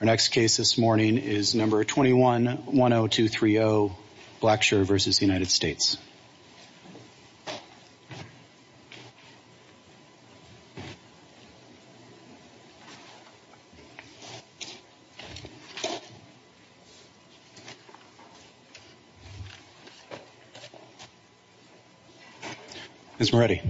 Our next case this morning is number 21-10230, Blackshire v. United States. Ms. Moretti.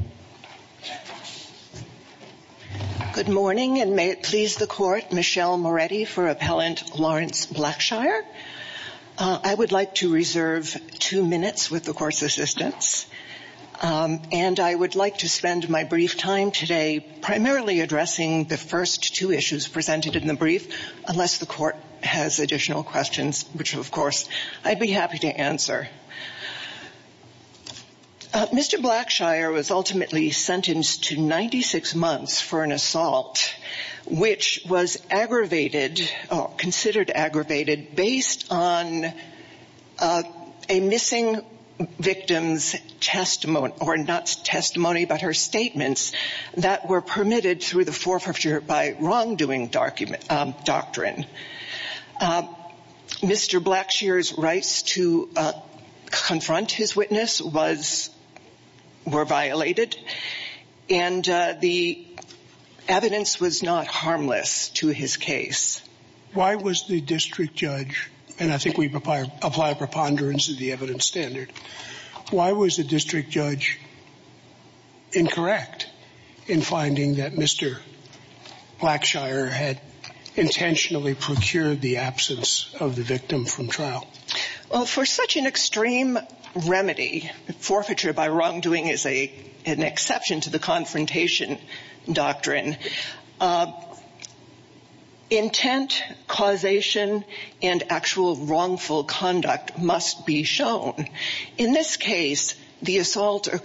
Good morning, and may it please the Court, Michelle Moretti for Appellant Lawrence Blackshire. I would like to reserve two minutes with the Court's assistance, and I would like to spend my brief time today primarily addressing the first two issues presented in the brief, unless the Court has additional questions, which, of course, I'd be happy to answer. Mr. Blackshire was ultimately sentenced to 96 months for an assault, which was aggravated, considered aggravated, based on a missing victim's testimony, or not testimony, but her statements that were permitted through the forfeiture by wrongdoing doctrine. Mr. Blackshire's rights to confront his witness were violated, and the evidence was not harmless to his case. Why was the district judge, and I think we apply a preponderance of the evidence standard, why was the district judge incorrect in finding that Mr. Blackshire had intentionally procured the absence of the victim from trial? For such an extreme remedy, forfeiture by wrongdoing is an exception to the confrontation doctrine, intent, causation, and actual wrongful conduct must be shown. In this case, the assault were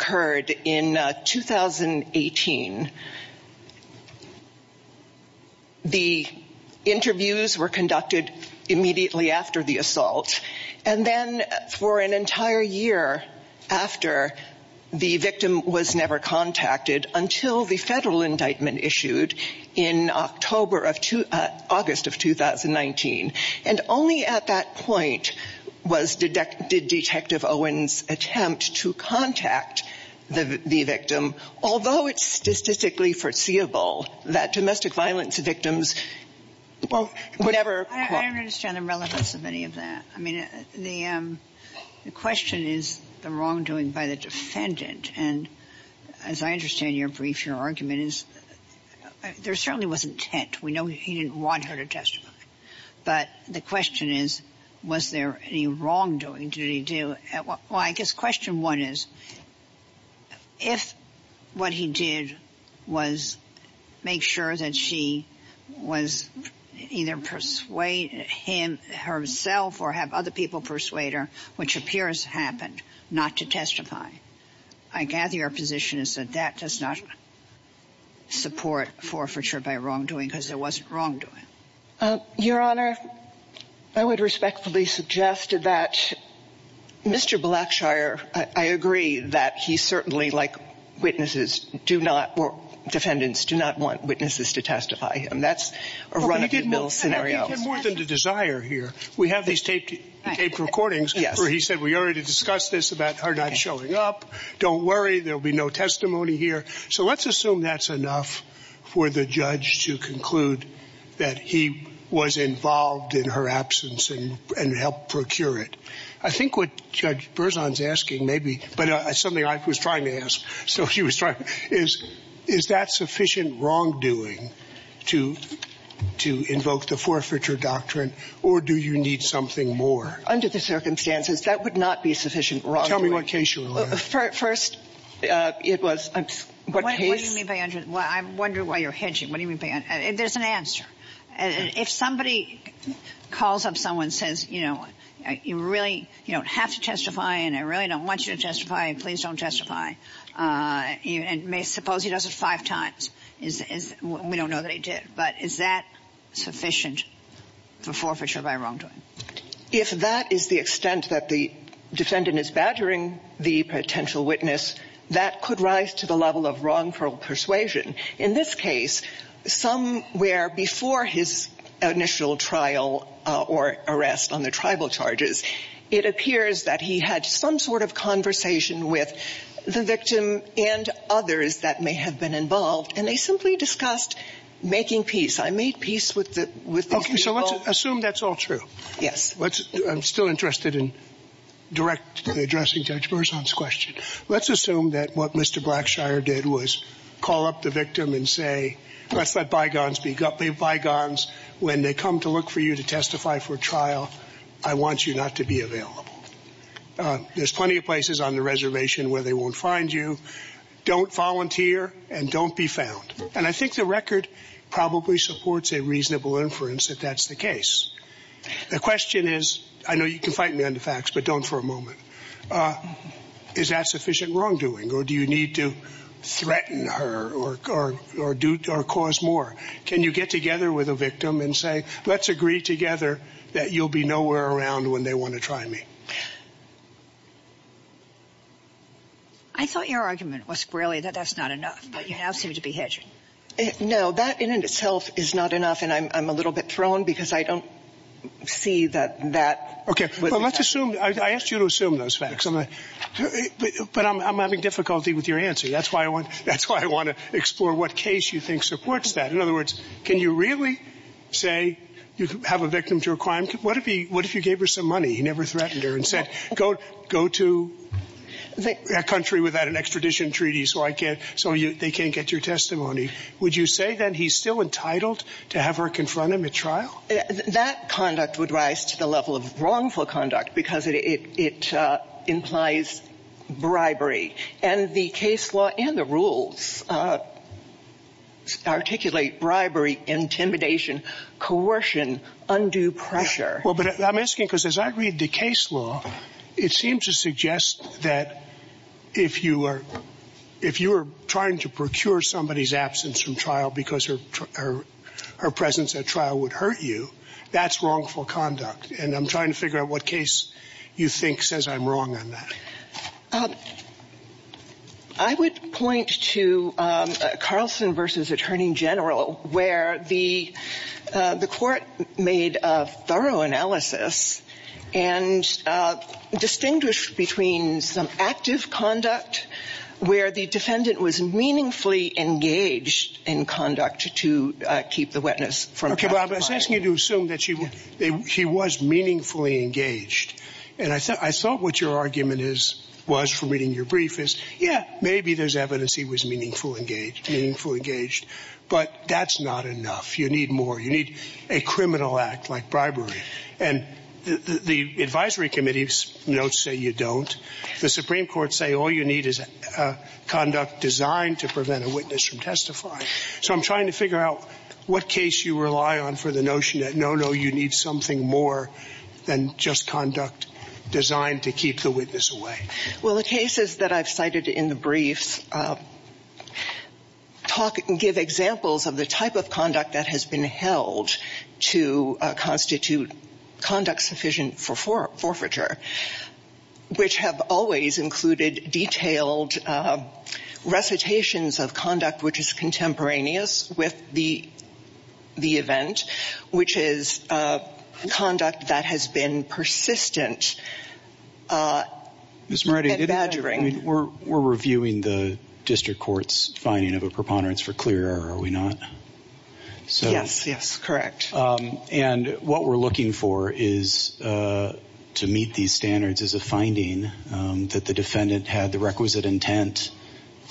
conducted immediately after the assault, and then for an entire year after, the victim was never contacted until the federal indictment issued in August of 2019, and only at that point did Detective Owens attempt to contact the victim, although it's statistically foreseeable that domestic violence victims would ever – I don't understand the relevance of any of that. I mean, the question is the wrongdoing by the defendant, and as I understand your brief, your argument is – there certainly was intent. We know he didn't want her to testify. But the question is, was there any was make sure that she was either persuade him herself or have other people persuade her, which appears happened, not to testify. I gather your position is that that does not support forfeiture by wrongdoing because there wasn't wrongdoing. Your Honor, I would respectfully suggest that Mr. Blackshire – I agree that he certainly, like witnesses, do not – or defendants do not want witnesses to testify, and that's a run-of-the-mill scenario. But you did more than the desire here. We have these taped recordings where he said we already discussed this about her not showing up. Don't worry, there will be no testimony here. So let's assume that's enough for the judge to conclude that he was involved in her absence and helped procure it. I think what Judge Berzon's asking may be – but something I was trying to ask, so she was trying – is that sufficient wrongdoing to invoke the forfeiture doctrine, or do you need something more? Under the circumstances, that would not be sufficient wrongdoing. Tell me what case you were on. First – It was – What case? What do you mean by – I wonder why you're hedging. What do you mean by – there's an answer. If somebody calls up someone and says, you know, you really – you don't have to testify and I really don't want you to testify, please don't testify, and suppose he does it five times, we don't know that he did. But is that sufficient for forfeiture by wrongdoing? If that is the extent that the defendant is badgering the potential witness, that could rise to the level of wrongful persuasion. In this case, somewhere before his initial trial or arrest on the tribal charges, it appears that he had some sort of conversation with the victim and others that may have been involved, and they simply discussed making peace. I made peace with the – Okay. So let's assume that's all true. Yes. I'm still interested in directly addressing Judge Berzon's question. Let's assume that what Mr. Blackshire did was call up the victim and say, let's let bygones be bygones. When they come to look for you to testify for trial, I want you not to be available. There's plenty of places on the reservation where they won't find you. Don't volunteer and don't be found. And I think the record probably supports a reasonable inference that that's the case. The question is – I know you can fight me on the facts, but don't for a moment – is that sufficient wrongdoing or do you need to threaten her or do – or cause more? Can you get together with a victim and say, let's agree together that you'll be nowhere around when they want to try me? I thought your argument was squarely that that's not enough, but you now seem to be hedging. No, that in and of itself is not enough, and I'm a little bit thrown because I don't see that that – I asked you to assume those facts, but I'm having difficulty with your answer. That's why I want to explore what case you think supports that. In other words, can you really say you have a victim to a crime? What if he – what if you gave her some money? He never threatened her and said, go to a country without an extradition treaty so I can't – so they can't get your testimony. Would you say then he's still entitled to have her confront him at trial? That conduct would rise to the level of wrongful conduct because it implies bribery. And the case law and the rules articulate bribery, intimidation, coercion, undue pressure. Well, but I'm asking because as I read the case law, it seems to suggest that if you are – if you are trying to procure somebody's absence from trial because her presence at trial would hurt you, that's wrongful conduct. And I'm trying to figure out what case you think says I'm wrong on that. I would point to Carlson v. Attorney General where the court made a thorough analysis and distinguished between some active conduct where the defendant was meaningfully engaged in conduct to keep the witness from – Okay, but I was asking you to assume that she was meaningfully engaged. And I thought what your argument is – was from reading your brief is, yeah, maybe there's evidence he was meaningful engaged, meaningful engaged, but that's not enough. You need more. You need a criminal act like bribery. And the advisory committee's notes say you don't. The Supreme Court say all you need is conduct designed to prevent a witness from testifying. So I'm trying to figure out what case you rely on for the notion that, no, no, you need something more than just conduct designed to keep the witness away. Well, the cases that I've cited in the briefs talk – give examples of the type of conduct that has been held to constitute conduct sufficient for forfeiture, which have always included detailed recitations of conduct which is contemporaneous with the event, which is conduct that has been persistent Ms. Moretti, we're reviewing the district court's finding of a preponderance for clear error, are we not? Yes, yes, correct. And what we're looking for is to meet these standards as a finding that the defendant had the requisite intent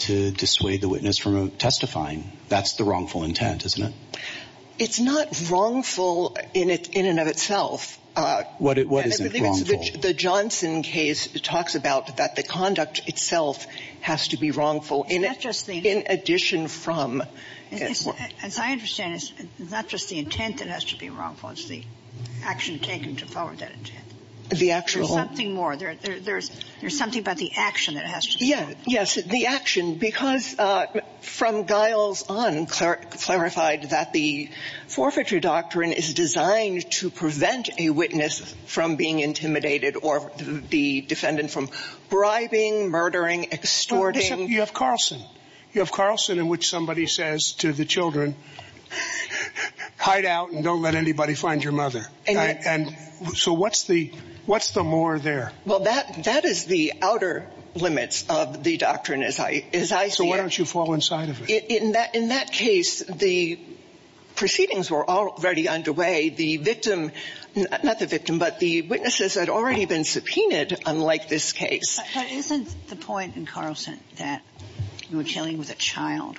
to dissuade the witness from testifying. That's the wrongful intent, isn't it? It's not wrongful in and of itself. What isn't wrongful? The Johnson case talks about that the conduct itself has to be wrongful in addition from – As I understand it, it's not just the intent that has to be wrongful. It's the action taken to forward that intent. The actual – There's something more. There's something about the action that has to be wrongful. Yes. The action. Because from Giles on clarified that the forfeiture doctrine is designed to prevent a witness from being intimidated or the defendant from bribing, murdering, extorting You have Carlson. You have Carlson in which somebody says to the children, hide out and don't let anybody find your mother. And so what's the more there? Well, that is the outer limits of the doctrine, as I see it. So why don't you fall inside of it? In that case, the proceedings were already underway. The victim – not the victim, but the witnesses had already been subpoenaed, unlike this case. But isn't the point in Carlson that you were dealing with a child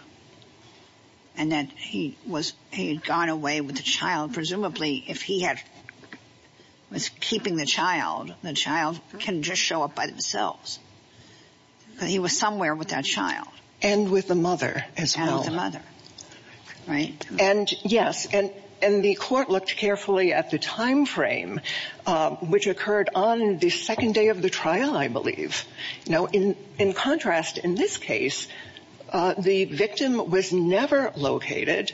and that he was – he had gone away with the child. Presumably, if he had – was keeping the child, the child can just show up by themselves. But he was somewhere with that child. And with the mother as well. And with the mother. Right? And yes. And the court looked carefully at the timeframe, which occurred on the second day of the trial, I believe. Now, in contrast, in this case, the victim was never located.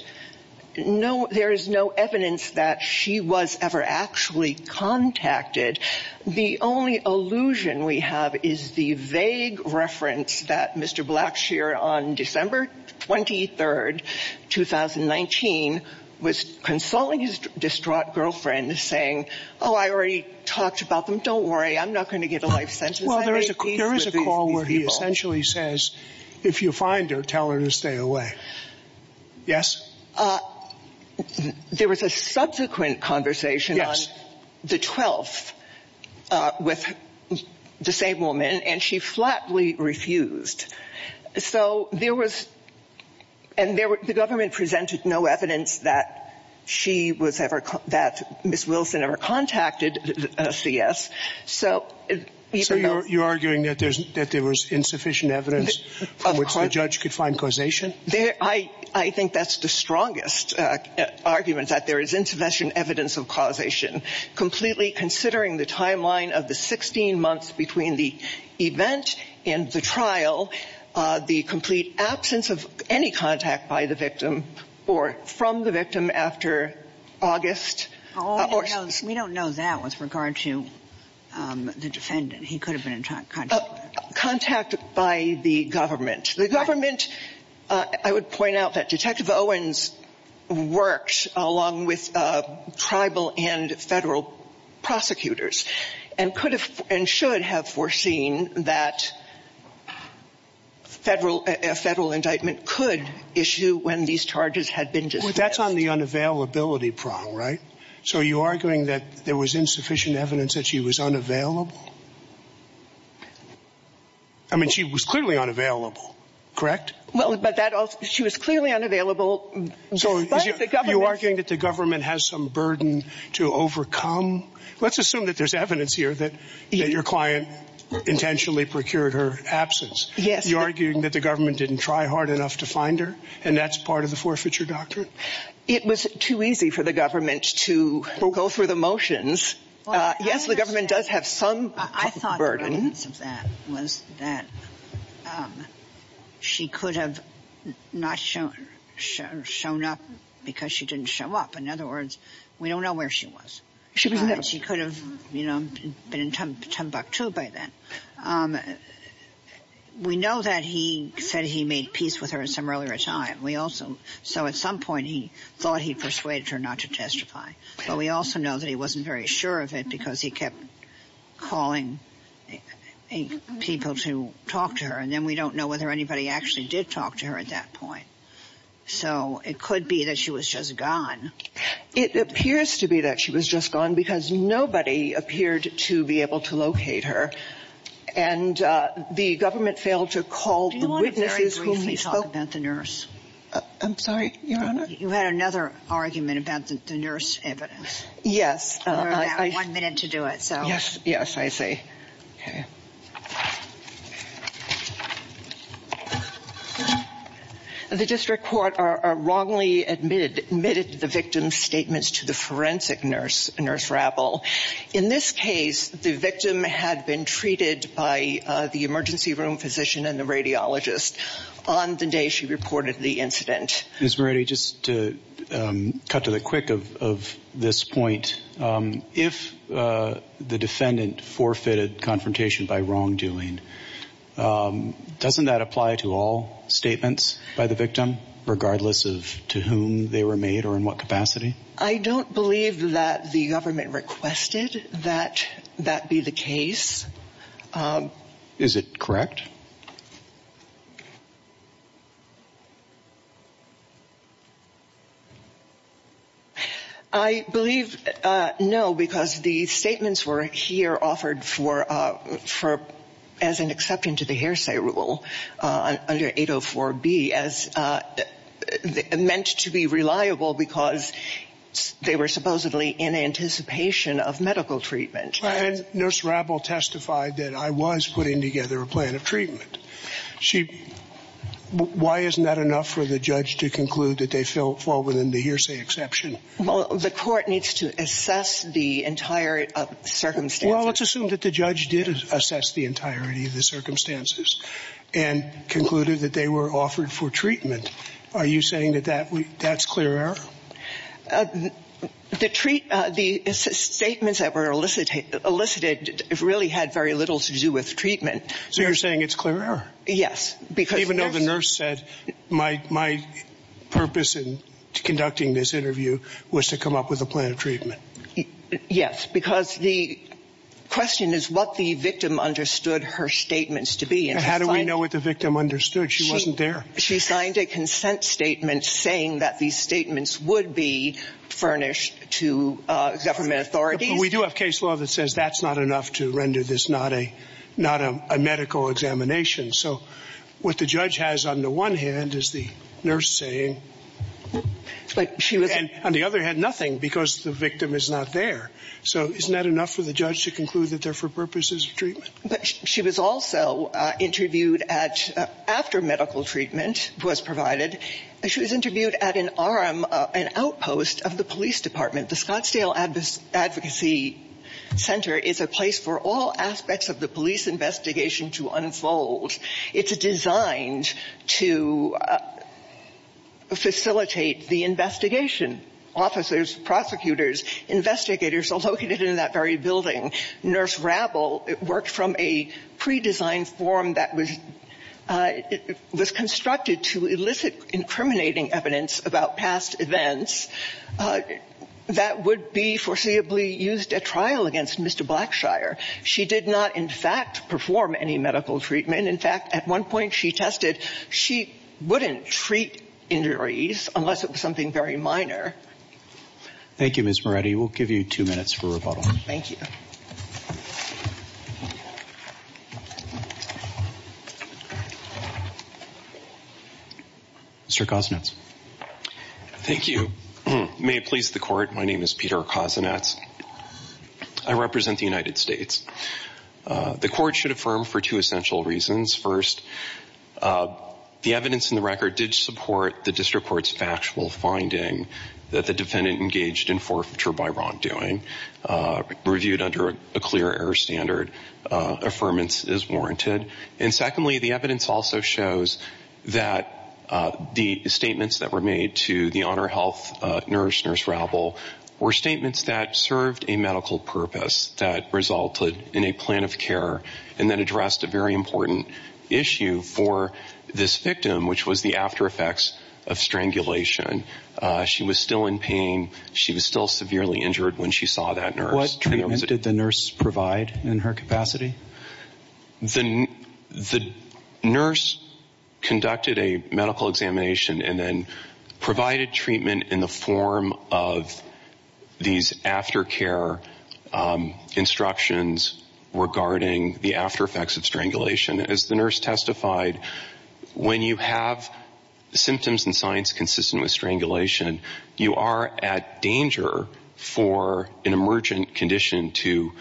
No – there is no evidence that she was ever actually contacted. The only allusion we have is the vague reference that Mr. Blackshear on December 23rd, 2019, was consulting his distraught girlfriend, saying, oh, I already talked about them. Don't worry. I'm not going to give a life sentence. I made peace with these people. Well, there is a call where he essentially says, if you find her, tell her to stay away. Yes? There was a subsequent conversation on the 12th with the same woman, and she flatly refused. So there was – and there – the government presented no evidence that she was ever – that Ms. Wilson ever contacted CS. So even though – So you're arguing that there was insufficient evidence from which the judge could find causation? I think that's the strongest argument, that there is insufficient evidence of causation, completely considering the timeline of the 16 months between the event and the trial, the complete absence of any contact by the victim or from the victim after August. Oh, no. We don't know that with regard to the defendant. He could have been in contact. Contact by the government. The government – I would point out that Detective Owens worked along with tribal and federal prosecutors and could have and should have foreseen that federal – a federal indictment could issue when these charges had been dismissed. That's on the unavailability prong, right? So you're arguing that there was insufficient evidence that she was unavailable? I mean, she was clearly unavailable, correct? Well, but that – she was clearly unavailable, but the government – So you're arguing that the government has some burden to overcome? Let's assume that there's evidence here that your client intentionally procured her absence. Yes. So you're arguing that the government didn't try hard enough to find her and that's part of the forfeiture doctrine? It was too easy for the government to go through the motions. Yes, the government does have some burden. I thought the evidence of that was that she could have not shown up because she didn't show up. In other words, we don't know where she was. She was never – She could have, you know, been in Timbuktu by then. We know that he said he made peace with her at some earlier time. We also – so at some point he thought he persuaded her not to testify. But we also know that he wasn't very sure of it because he kept calling people to talk to her. And then we don't know whether anybody actually did talk to her at that point. So it could be that she was just gone. It appears to be that she was just gone because nobody appeared to be able to locate her. And the government failed to call the witnesses whom he spoke to. Do you want to very briefly talk about the nurse? I'm sorry, Your Honor? You had another argument about the nurse evidence. Yes. You have one minute to do it, so. Yes, yes, I see. Okay. The district court wrongly admitted the victim's statements to the forensic nurse, Nurse Rappel. In this case, the victim had been treated by the emergency room physician and the radiologist on the day she reported the incident. Ms. Moretti, just to cut to the quick of this point, if the defendant forfeited confrontation by wrongdoing, doesn't that apply to all statements by the victim, regardless of to whom they were made or in what capacity? I don't believe that the government requested that that be the case. Is it correct? I believe no, because the statements were here offered for as an exception to the hearsay rule under 804B meant to be reliable because they were supposedly in anticipation of medical treatment. And Nurse Rappel testified that I was putting together a plan of treatment. Why isn't that enough for the judge to conclude that they fall within the hearsay exception? Well, the court needs to assess the entirety of the circumstances. Well, let's assume that the judge did assess the entirety of the circumstances and concluded that they were offered for treatment. Are you saying that that's clear error? The statements that were elicited really had very little to do with treatment. So you're saying it's clear error? Yes. Even though the nurse said, my purpose in conducting this interview was to come up with a plan of treatment. Yes, because the question is what the victim understood her statements to be. How do we know what the victim understood? She wasn't there. She signed a consent statement saying that these statements would be furnished to government authorities. But we do have case law that says that's not enough to render this not a medical examination. So what the judge has on the one hand is the nurse saying, and on the other hand nothing because the victim is not there. So isn't that enough for the judge to conclude that they're for purposes of treatment? But she was also interviewed at, after medical treatment was provided, she was interviewed at an outpost of the police department. The Scottsdale Advocacy Center is a place for all aspects of the police investigation to unfold. It's designed to facilitate the investigation. Officers, prosecutors, investigators are located in that very building. Nurse Rabl worked from a pre-designed form that was constructed to elicit incriminating evidence about past events that would be foreseeably used at trial against Mr. Blackshire. She did not in fact perform any medical treatment. In fact, at one point she tested. She wouldn't treat injuries unless it was something very minor. Thank you, Ms. Moretti. We'll give you two minutes for rebuttal. Thank you. Mr. Kozinets. Thank you. May it please the court, my name is Peter Kozinets. I represent the United States. The court should affirm for two essential reasons. First, the evidence in the record did support the district court's factual finding that the defendant engaged in forfeiture by wrongdoing, reviewed under a clear error standard. Affirmance is warranted. And secondly, the evidence also shows that the statements that were made to the Honor Health nurse, Nurse Rabl, were statements that served a medical purpose, that resulted in a plan of care, and that addressed a very important issue for this victim, which was the after effects of strangulation. She was still in pain. She was still severely injured when she saw that nurse. What treatment did the nurse provide in her capacity? The nurse conducted a medical examination and then provided treatment in the form of these aftercare instructions regarding the after effects of strangulation. As the nurse testified, when you have symptoms and signs consistent with strangulation, you are at danger for an emergent condition to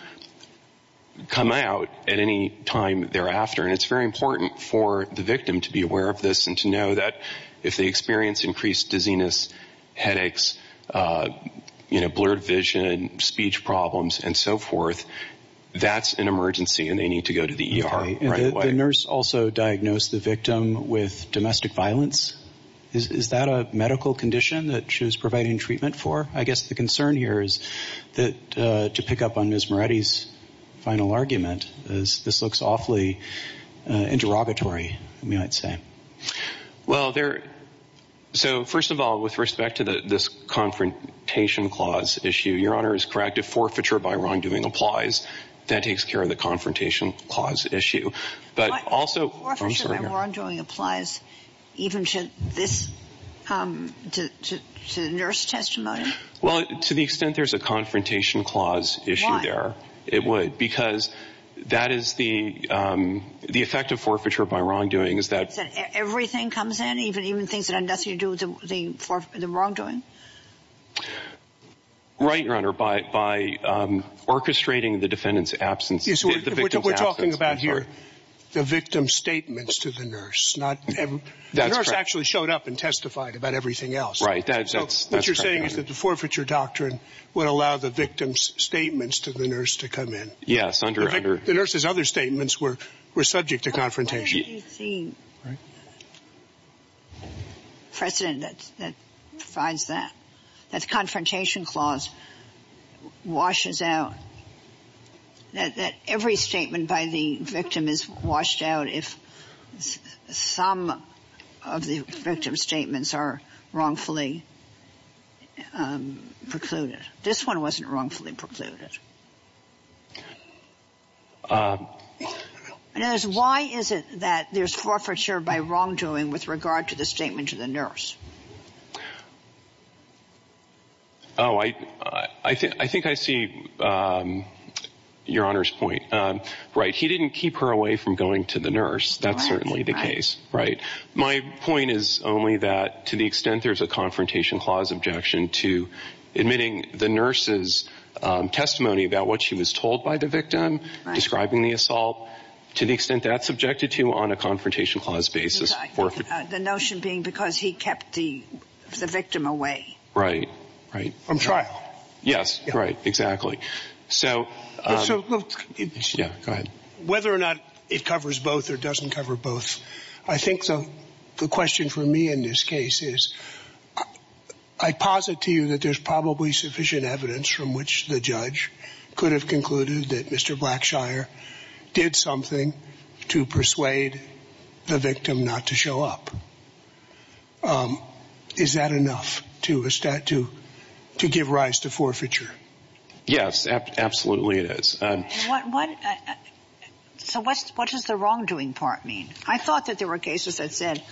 come out at any time thereafter. And it's very important for the victim to be aware of this and to know that if they experience increased dizziness, headaches, blurred vision, speech problems, and so forth, that's an emergency and they need to go to the ER. The nurse also diagnosed the victim with domestic violence. Is that a medical condition that she was providing treatment for? I guess the concern here is that, to pick up on Ms. Moretti's final argument, is this looks awfully interrogatory, we might say. Well, so first of all, with respect to this Confrontation Clause issue, Your Honor is correct, if forfeiture by wrongdoing applies, that takes care of the Confrontation Clause issue. But forfeiture by wrongdoing applies even to the nurse testimony? Well, to the extent there's a Confrontation Clause issue there, it would. Because the effect of forfeiture by wrongdoing is that... Is that everything comes in, even things that have nothing to do with the wrongdoing? Right, Your Honor, by orchestrating the defendant's absence, the victim's absence... Yes, we're talking about here the victim's statements to the nurse, not... That's correct. The nurse actually showed up and testified about everything else. Right, that's correct, Your Honor. So what you're saying is that the forfeiture doctrine would allow the victim's statements to the nurse to come in. Yes, under... The nurse's other statements were subject to confrontation. Where do you see precedent that provides that, that the Confrontation Clause washes out, that every statement by the victim is washed out if some of the victim's statements are wrongfully precluded? This one wasn't wrongfully precluded. Why is it that there's forfeiture by wrongdoing with regard to the statement to the nurse? Oh, I think I see Your Honor's point. Right, he didn't keep her away from going to the nurse. That's certainly the case. Right. My point is only that to the extent there's a Confrontation Clause objection to admitting the nurse's testimony about what she was told by the victim, describing the assault, to the extent that's subjected to on a Confrontation Clause basis for... The notion being because he kept the victim away. Right, right. From trial. Yes, right, exactly. So... So... Yeah, go ahead. Whether or not it covers both or doesn't cover both, I think the question for me in this case is, I posit to you that there's probably sufficient evidence from which the judge could have concluded that Mr. Blackshire did something to persuade the victim not to show up. Is that enough to give rise to forfeiture? Yes, absolutely it is. So what does the wrongdoing part mean? I thought that there were cases that said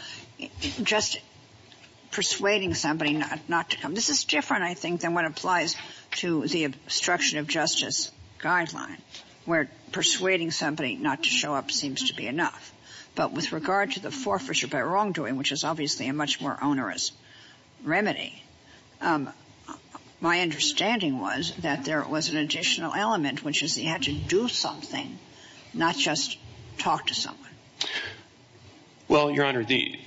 just persuading somebody not to come. This is different, I think, than what applies to the obstruction of justice guideline where persuading somebody not to show up seems to be enough. But with regard to the forfeiture by wrongdoing, which is obviously a much more onerous remedy, my understanding was that there was an additional element, which is he had to do something, not just talk to someone. Well, Your Honor, the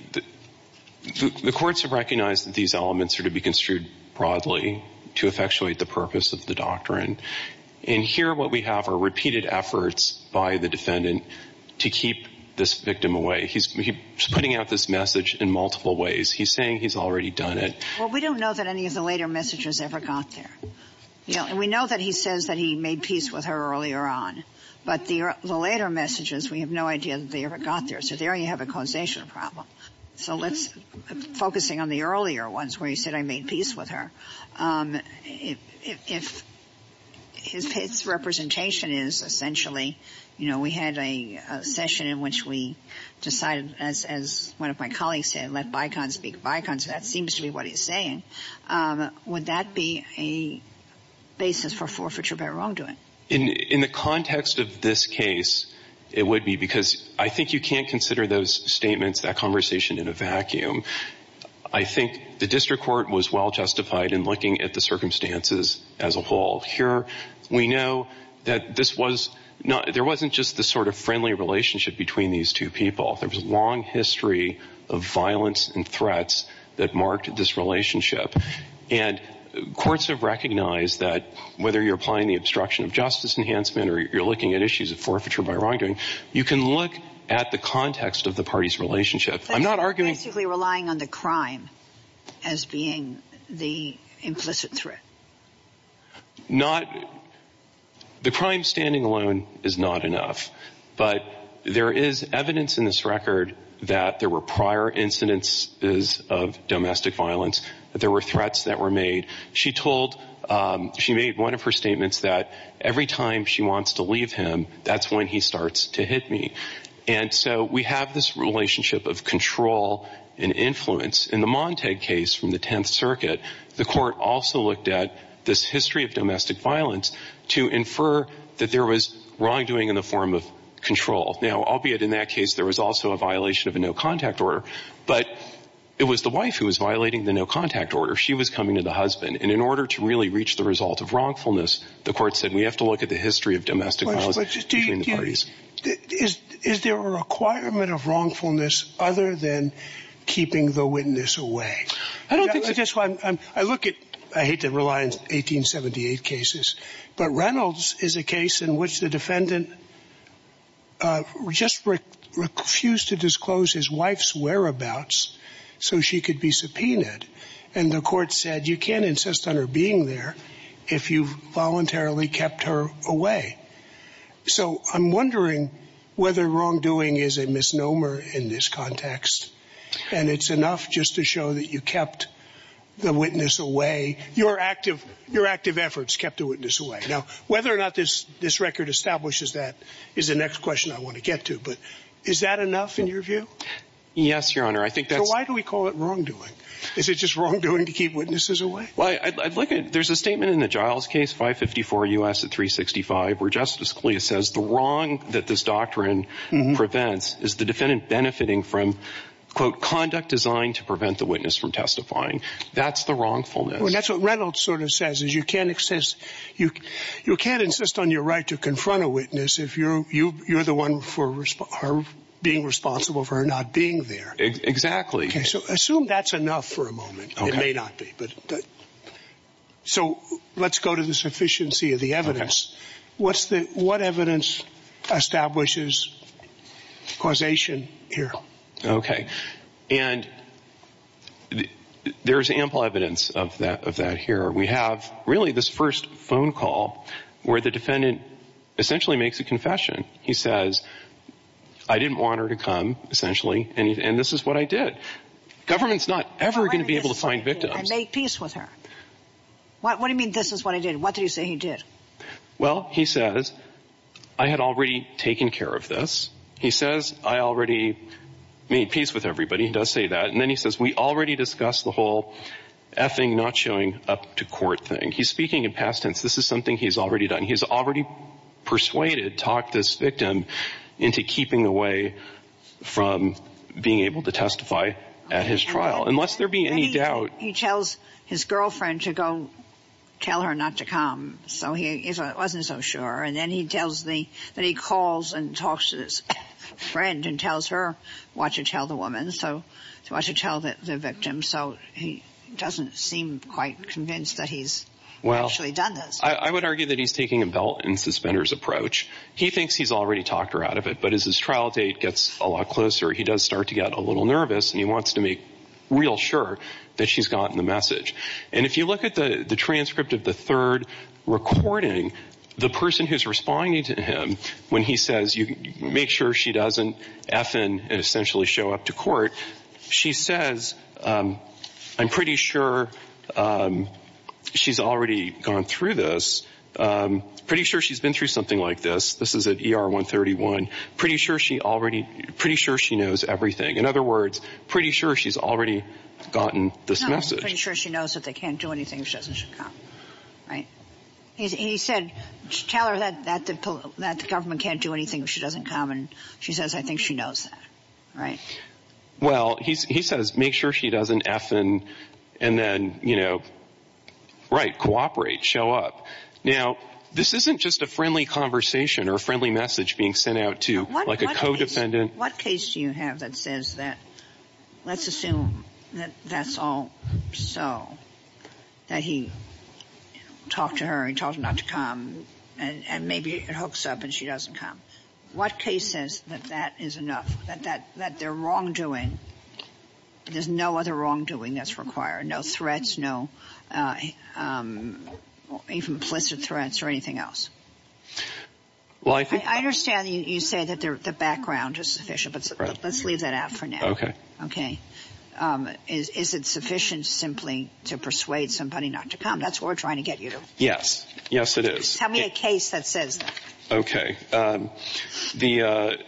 courts have recognized that these elements are to be construed broadly to effectuate the purpose of the doctrine. And here what we have are repeated efforts by the defendant to keep this victim away. He's putting out this message in multiple ways. He's saying he's already done it. Well, we don't know that any of the later messages ever got there. And we know that he says that he made peace with her earlier on. But the later messages, we have no idea that they ever got there. So there you have a causation problem. So let's, focusing on the earlier ones where he said, I made peace with her, if his representation is essentially, you know, we had a session in which we decided, as one of my colleagues said, let Bicon speak Bicon. So that seems to be what he's saying. Would that be a basis for forfeiture by wrongdoing? In the context of this case, it would be because I think you can't consider those statements, that conversation, in a vacuum. I think the district court was well-justified in looking at the circumstances as a whole. Here, we know that this was not, there wasn't just the sort of friendly relationship between these two people. There was a long history of violence and threats that marked this relationship. And courts have recognized that whether you're applying the obstruction of justice enhancement or you're looking at issues of forfeiture by wrongdoing, you can look at the context of the party's relationship. I'm not arguing. Basically relying on the crime as being the implicit threat. Not, the crime standing alone is not enough. But there is evidence in this record that there were prior incidences of domestic violence, that there were threats that were made. She told, she made one of her statements that every time she wants to leave him, that's when he starts to hit me. And so we have this relationship of control and influence. In the Montague case from the 10th Circuit, the court also looked at this history of domestic violence to infer that there was wrongdoing in the form of control. Now, albeit in that case, there was also a violation of a no-contact order. But it was the wife who was violating the no-contact order. She was coming to the husband. And in order to really reach the result of wrongfulness, the court said we have to look at the history of domestic violence between the parties. Is there a requirement of wrongfulness other than keeping the witness away? I don't think so. I look at, I hate to rely on 1878 cases, but Reynolds is a case in which the defendant just refused to disclose his wife's whereabouts so she could be subpoenaed. And the court said you can't insist on her being there if you voluntarily kept her away. So I'm wondering whether wrongdoing is a misnomer in this context and it's enough just to show that you kept the witness away. Your active efforts kept the witness away. Now, whether or not this record establishes that is the next question I want to get to. But is that enough in your view? Yes, Your Honor. So why do we call it wrongdoing? Is it just wrongdoing to keep witnesses away? There's a statement in the Giles case, 554 U.S. at 365, where Justice Scalia says the wrong that this doctrine prevents is the defendant benefiting from, quote, conduct designed to prevent the witness from testifying. That's the wrongfulness. That's what Reynolds sort of says is you can't insist on your right to confront a witness if you're the one being responsible for her not being there. Exactly. So assume that's enough for a moment. It may not be. So let's go to the sufficiency of the evidence. What evidence establishes causation here? Okay. And there's ample evidence of that here. We have really this first phone call where the defendant essentially makes a confession. He says, I didn't want her to come, essentially, and this is what I did. Government's not ever going to be able to find victims. And make peace with her. What do you mean this is what I did? What did he say he did? Well, he says, I had already taken care of this. He says, I already made peace with everybody. He does say that. And then he says, we already discussed the whole effing not showing up to court thing. He's speaking in past tense. This is something he's already done. He's already persuaded, talked this victim into keeping away from being able to testify at his trial. Unless there be any doubt. He tells his girlfriend to go tell her not to come. So he wasn't so sure. And then he tells me that he calls and talks to his friend and tells her what to tell the woman, what to tell the victim. So he doesn't seem quite convinced that he's actually done this. I would argue that he's taking a belt and suspenders approach. He thinks he's already talked her out of it. But as his trial date gets a lot closer, he does start to get a little nervous. And he wants to make real sure that she's gotten the message. And if you look at the transcript of the third recording, the person who's responding to him when he says make sure she doesn't effing essentially show up to court. She says, I'm pretty sure she's already gone through this. Pretty sure she's been through something like this. This is at ER 131. Pretty sure she already, pretty sure she knows everything. In other words, pretty sure she's already gotten this message. Pretty sure she knows that they can't do anything if she doesn't come. Right. He said, tell her that the government can't do anything if she doesn't come. And she says, I think she knows that. Right. Well, he says, make sure she doesn't effing and then, you know, right, cooperate, show up. Now, this isn't just a friendly conversation or a friendly message being sent out to like a codependent. What case do you have that says that? Let's assume that that's all so that he talked to her and told her not to come. And maybe it hooks up and she doesn't come. What case says that that is enough, that their wrongdoing, there's no other wrongdoing that's required, no threats, no implicit threats or anything else? I understand you say that the background is sufficient, but let's leave that out for now. Okay. Okay. Is it sufficient simply to persuade somebody not to come? That's what we're trying to get you to. Yes. Yes, it is. Tell me a case that says that. Okay. The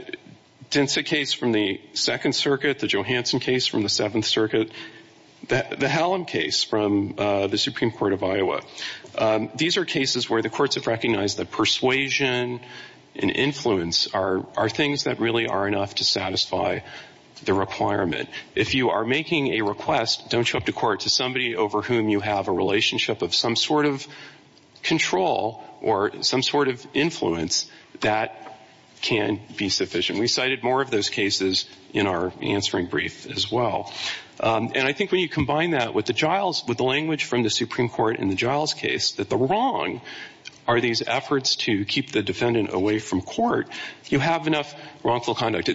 Dentsa case from the Second Circuit, the Johansson case from the Seventh Circuit, the Hallam case from the Supreme Court of Iowa. These are cases where the courts have recognized that persuasion and influence are things that really are enough to satisfy the requirement. If you are making a request, don't show up to court, to somebody over whom you have a relationship of some sort of control or some sort of influence, that can be sufficient. We cited more of those cases in our answering brief as well. And I think when you combine that with the language from the Supreme Court in the Giles case, that the wrong are these efforts to keep the defendant away from court, you have enough wrongful conduct.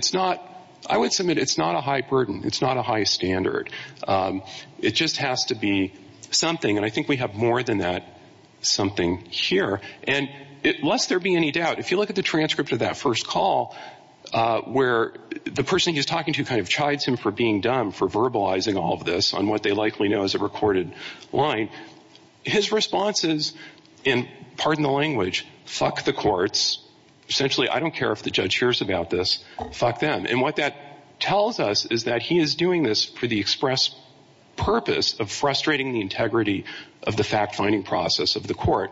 I would submit it's not a high burden. It's not a high standard. It just has to be something. And I think we have more than that something here. And lest there be any doubt, if you look at the transcript of that first call, where the person he's talking to kind of chides him for being dumb, for verbalizing all of this on what they likely know is a recorded line, his response is, and pardon the language, fuck the courts. Essentially, I don't care if the judge hears about this. Fuck them. And what that tells us is that he is doing this for the express purpose of frustrating the integrity of the fact-finding process of the court.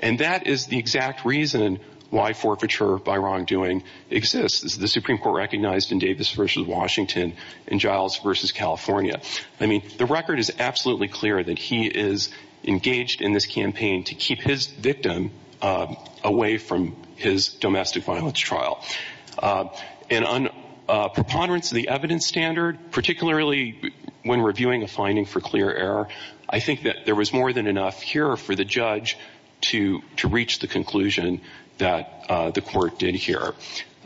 And that is the exact reason why forfeiture by wrongdoing exists. This is the Supreme Court recognized in Davis v. Washington and Giles v. California. I mean, the record is absolutely clear that he is engaged in this campaign to keep his victim away from his domestic violence trial. And on preponderance of the evidence standard, particularly when reviewing a finding for clear error, I think that there was more than enough here for the judge to reach the conclusion that the court did here.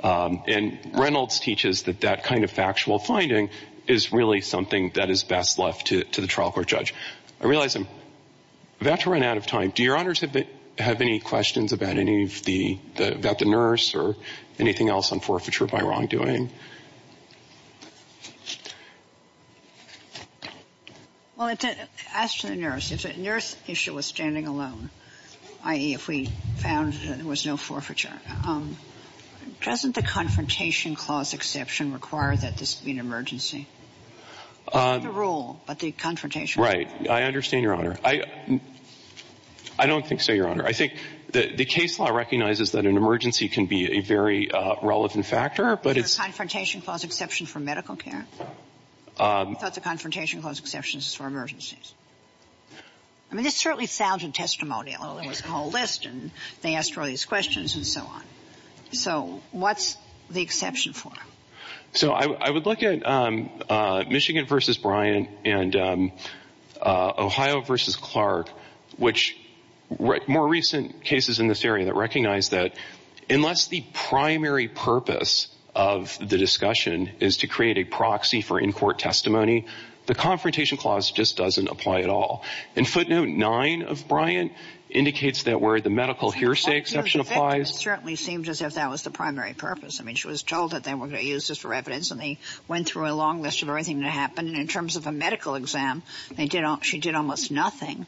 And Reynolds teaches that that kind of factual finding is really something that is best left to the trial court judge. I realize I'm about to run out of time. Do Your Honors have any questions about the nurse or anything else on forfeiture by wrongdoing? Well, as to the nurse, if the nurse issue was standing alone, i.e., if we found that there was no forfeiture, doesn't the confrontation clause exception require that this be an emergency? Not the rule, but the confrontation. Right. I understand, Your Honor. I don't think so, Your Honor. I think the case law recognizes that an emergency can be a very relevant factor, but it's — Is the confrontation clause exception for medical care? I thought the confrontation clause exception is for emergencies. I mean, this certainly sounded testimonial. There was a whole list, and they asked various questions and so on. So what's the exception for? So I would look at Michigan v. Bryant and Ohio v. Clark, which more recent cases in this area that recognize that unless the primary purpose of the discussion is to create a proxy for in-court testimony, the confrontation clause just doesn't apply at all. And footnote 9 of Bryant indicates that where the medical hearsay exception applies. It certainly seemed as if that was the primary purpose. I mean, she was told that they were going to use this for evidence, and they went through a long list of everything that happened. And in terms of a medical exam, they did — she did almost nothing.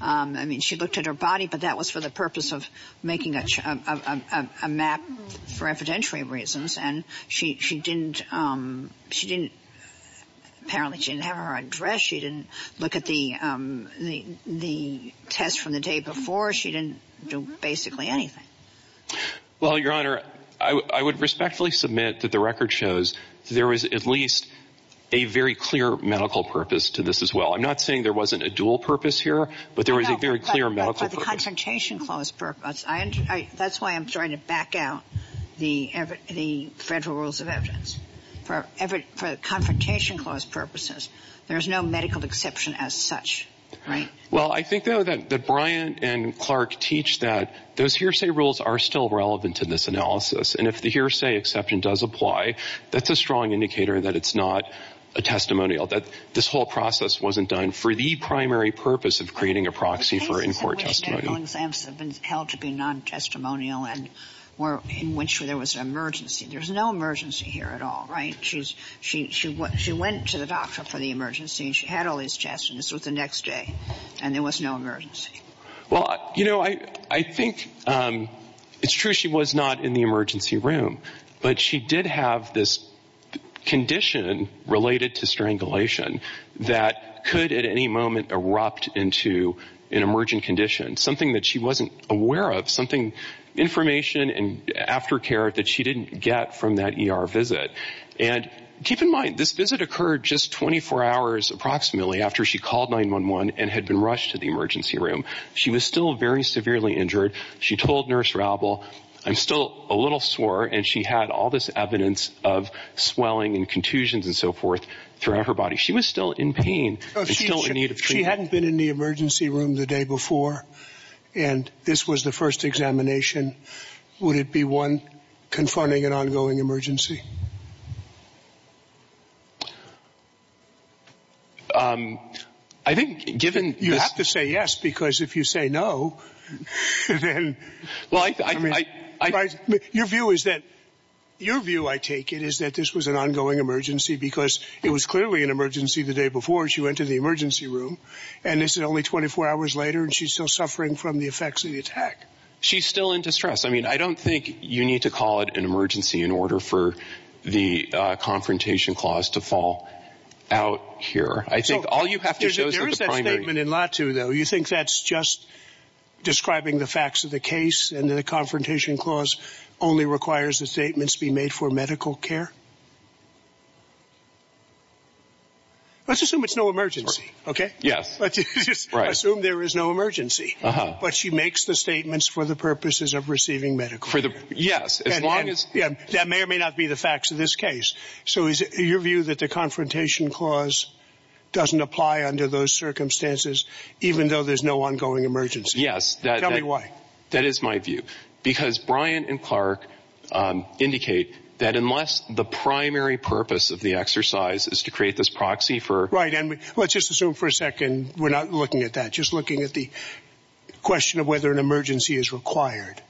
I mean, she looked at her body, but that was for the purpose of making a map for evidentiary reasons. And she didn't — she didn't — apparently, she didn't have her address. She didn't look at the test from the day before. She didn't do basically anything. Well, Your Honor, I would respectfully submit that the record shows that there was at least a very clear medical purpose to this as well. I'm not saying there wasn't a dual purpose here, but there was a very clear medical purpose. But for the confrontation clause purpose, that's why I'm trying to back out the federal rules of evidence. For confrontation clause purposes, there's no medical exception as such, right? Well, I think, though, that Bryant and Clark teach that those hearsay rules are still relevant to this analysis. And if the hearsay exception does apply, that's a strong indicator that it's not a testimonial, that this whole process wasn't done for the primary purpose of creating a proxy for in-court testimony. The cases in which medical exams have been held to be non-testimonial and were — in which there was an emergency. There's no emergency here at all, right? She went to the doctor for the emergency, and she had all these tests, and this was the next day. And there was no emergency. Well, you know, I think it's true she was not in the emergency room. But she did have this condition related to strangulation that could at any moment erupt into an emergent condition, something that she wasn't aware of, something — information and aftercare that she didn't get from that ER visit. And keep in mind, this visit occurred just 24 hours approximately after she called 911 and had been rushed to the emergency room. She was still very severely injured. She told Nurse Raubel, I'm still a little sore, and she had all this evidence of swelling and contusions and so forth throughout her body. She was still in pain and still in need of treatment. If she hadn't been in the emergency room the day before and this was the first examination, would it be one confronting an ongoing emergency? I think given — You have to say yes, because if you say no, then — Well, I — Your view is that — your view, I take it, is that this was an ongoing emergency because it was clearly an emergency the day before she went to the emergency room, and this is only 24 hours later and she's still suffering from the effects of the attack. She's still in distress. I mean, I don't think you need to call it an emergency in order for the confrontation clause to fall out here. I think all you have to show is that the primary — There is that statement in Latu, though. You think that's just describing the facts of the case and that the confrontation clause only requires the statements be made for medical care? Let's assume it's no emergency, OK? Yes. Let's just assume there is no emergency. Uh-huh. But she makes the statements for the purposes of receiving medical care. Yes, as long as — Yeah, that may or may not be the facts of this case. So is it your view that the confrontation clause doesn't apply under those circumstances, even though there's no ongoing emergency? Yes. Tell me why. That is my view. Because Bryant and Clark indicate that unless the primary purpose of the exercise is to create this proxy for — Right. And let's just assume for a second we're not looking at that, just looking at the question of whether an emergency is required.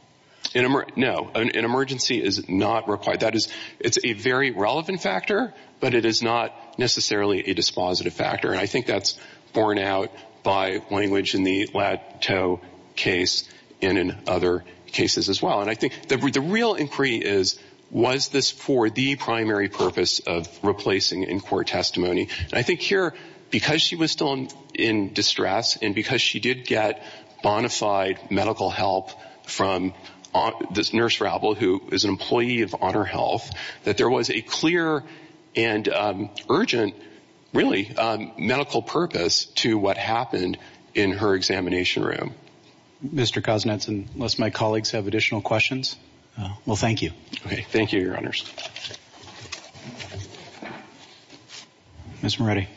No, an emergency is not required. That is — it's a very relevant factor, but it is not necessarily a dispositive factor. And I think that's borne out by language in the Latu case and in other cases as well. And I think the real inquiry is, was this for the primary purpose of replacing in-court testimony? And I think here, because she was still in distress and because she did get bona fide medical help from this nurse rabble who is an employee of Honor Health, that there was a clear and urgent, really, medical purpose to what happened in her examination room. Mr. Kosnetson, unless my colleagues have additional questions. Well, thank you. Okay. Thank you, Your Honors. Ms. Moretti.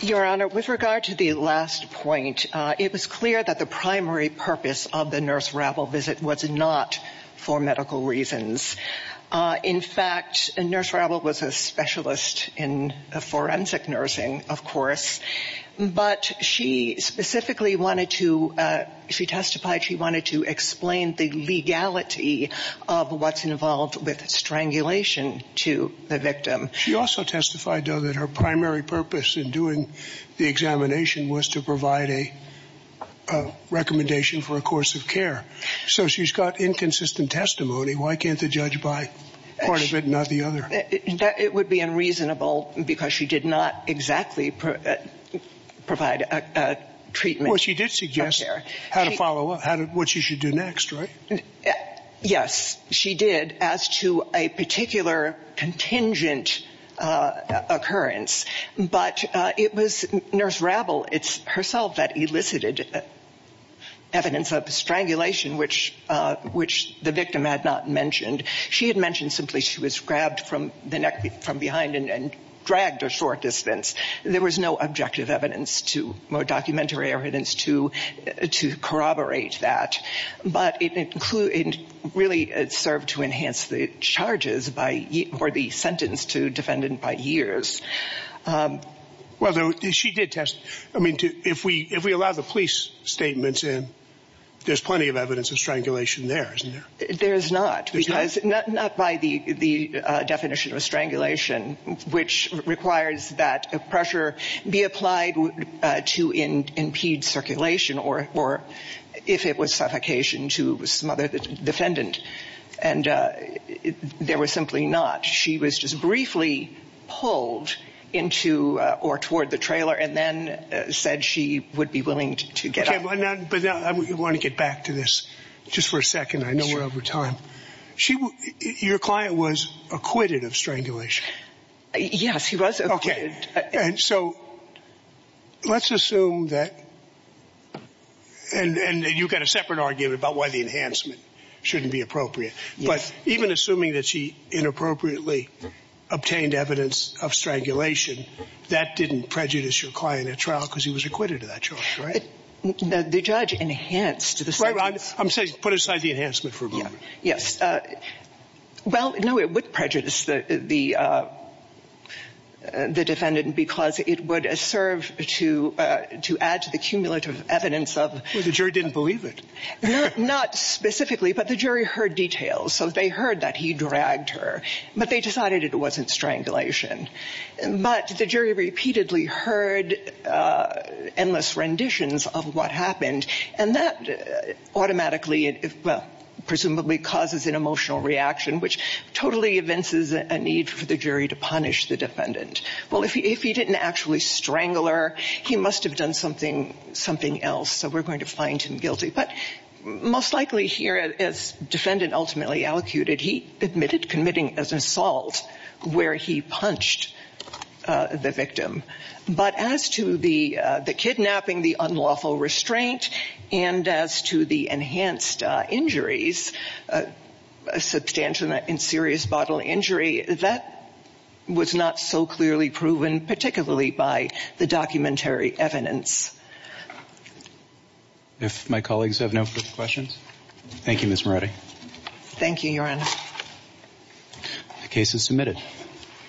Your Honor, with regard to the last point, it was clear that the primary purpose of the nurse rabble visit was not for medical reasons. In fact, a nurse rabble was a specialist in forensic nursing, of course, but she specifically wanted to — she testified she wanted to explain the legality of what's involved with strangulation to the victim. She also testified, though, that her primary purpose in doing the examination was to provide a recommendation for a course of care. So she's got inconsistent testimony. Why can't the judge buy part of it and not the other? It would be unreasonable because she did not exactly provide a treatment. Well, she did suggest how to follow up, what she should do next, right? Yes, she did, as to a particular contingent occurrence. But it was nurse rabble herself that elicited evidence of strangulation, which the victim had not mentioned. She had mentioned simply she was grabbed from behind and dragged a short distance. There was no objective evidence or documentary evidence to corroborate that. But it included — it really served to enhance the charges by — or the sentence to defendant by years. Well, she did test — I mean, if we allow the police statements in, there's plenty of evidence of strangulation there, isn't there? There's not. There's not? Not by the definition of strangulation, which requires that pressure be applied to impede circulation or if it was suffocation to some other defendant. And there was simply not. She was just briefly pulled into or toward the trailer and then said she would be willing to get up. I want to get back to this just for a second. I know we're over time. Your client was acquitted of strangulation. Yes, he was acquitted. Okay. And so let's assume that — and you've got a separate argument about why the enhancement shouldn't be appropriate. But even assuming that she inappropriately obtained evidence of strangulation, that didn't prejudice your client at trial because he was acquitted of that charge, right? The judge enhanced the sentence. I'm saying put aside the enhancement for a moment. Yes. Well, no, it would prejudice the defendant because it would serve to add to the cumulative evidence of — Well, the jury didn't believe it. Not specifically, but the jury heard details. So they heard that he dragged her, but they decided it wasn't strangulation. But the jury repeatedly heard endless renditions of what happened, and that automatically, well, presumably causes an emotional reaction, which totally evinces a need for the jury to punish the defendant. Well, if he didn't actually strangle her, he must have done something else, so we're going to find him guilty. But most likely here, as defendant ultimately allocated, he admitted committing an assault where he punched the victim. But as to the kidnapping, the unlawful restraint, and as to the enhanced injuries, substantial and serious bodily injury, that was not so clearly proven, particularly by the documentary evidence. If my colleagues have no further questions. Thank you, Ms. Moretti. Thank you, Your Honor. The case is submitted.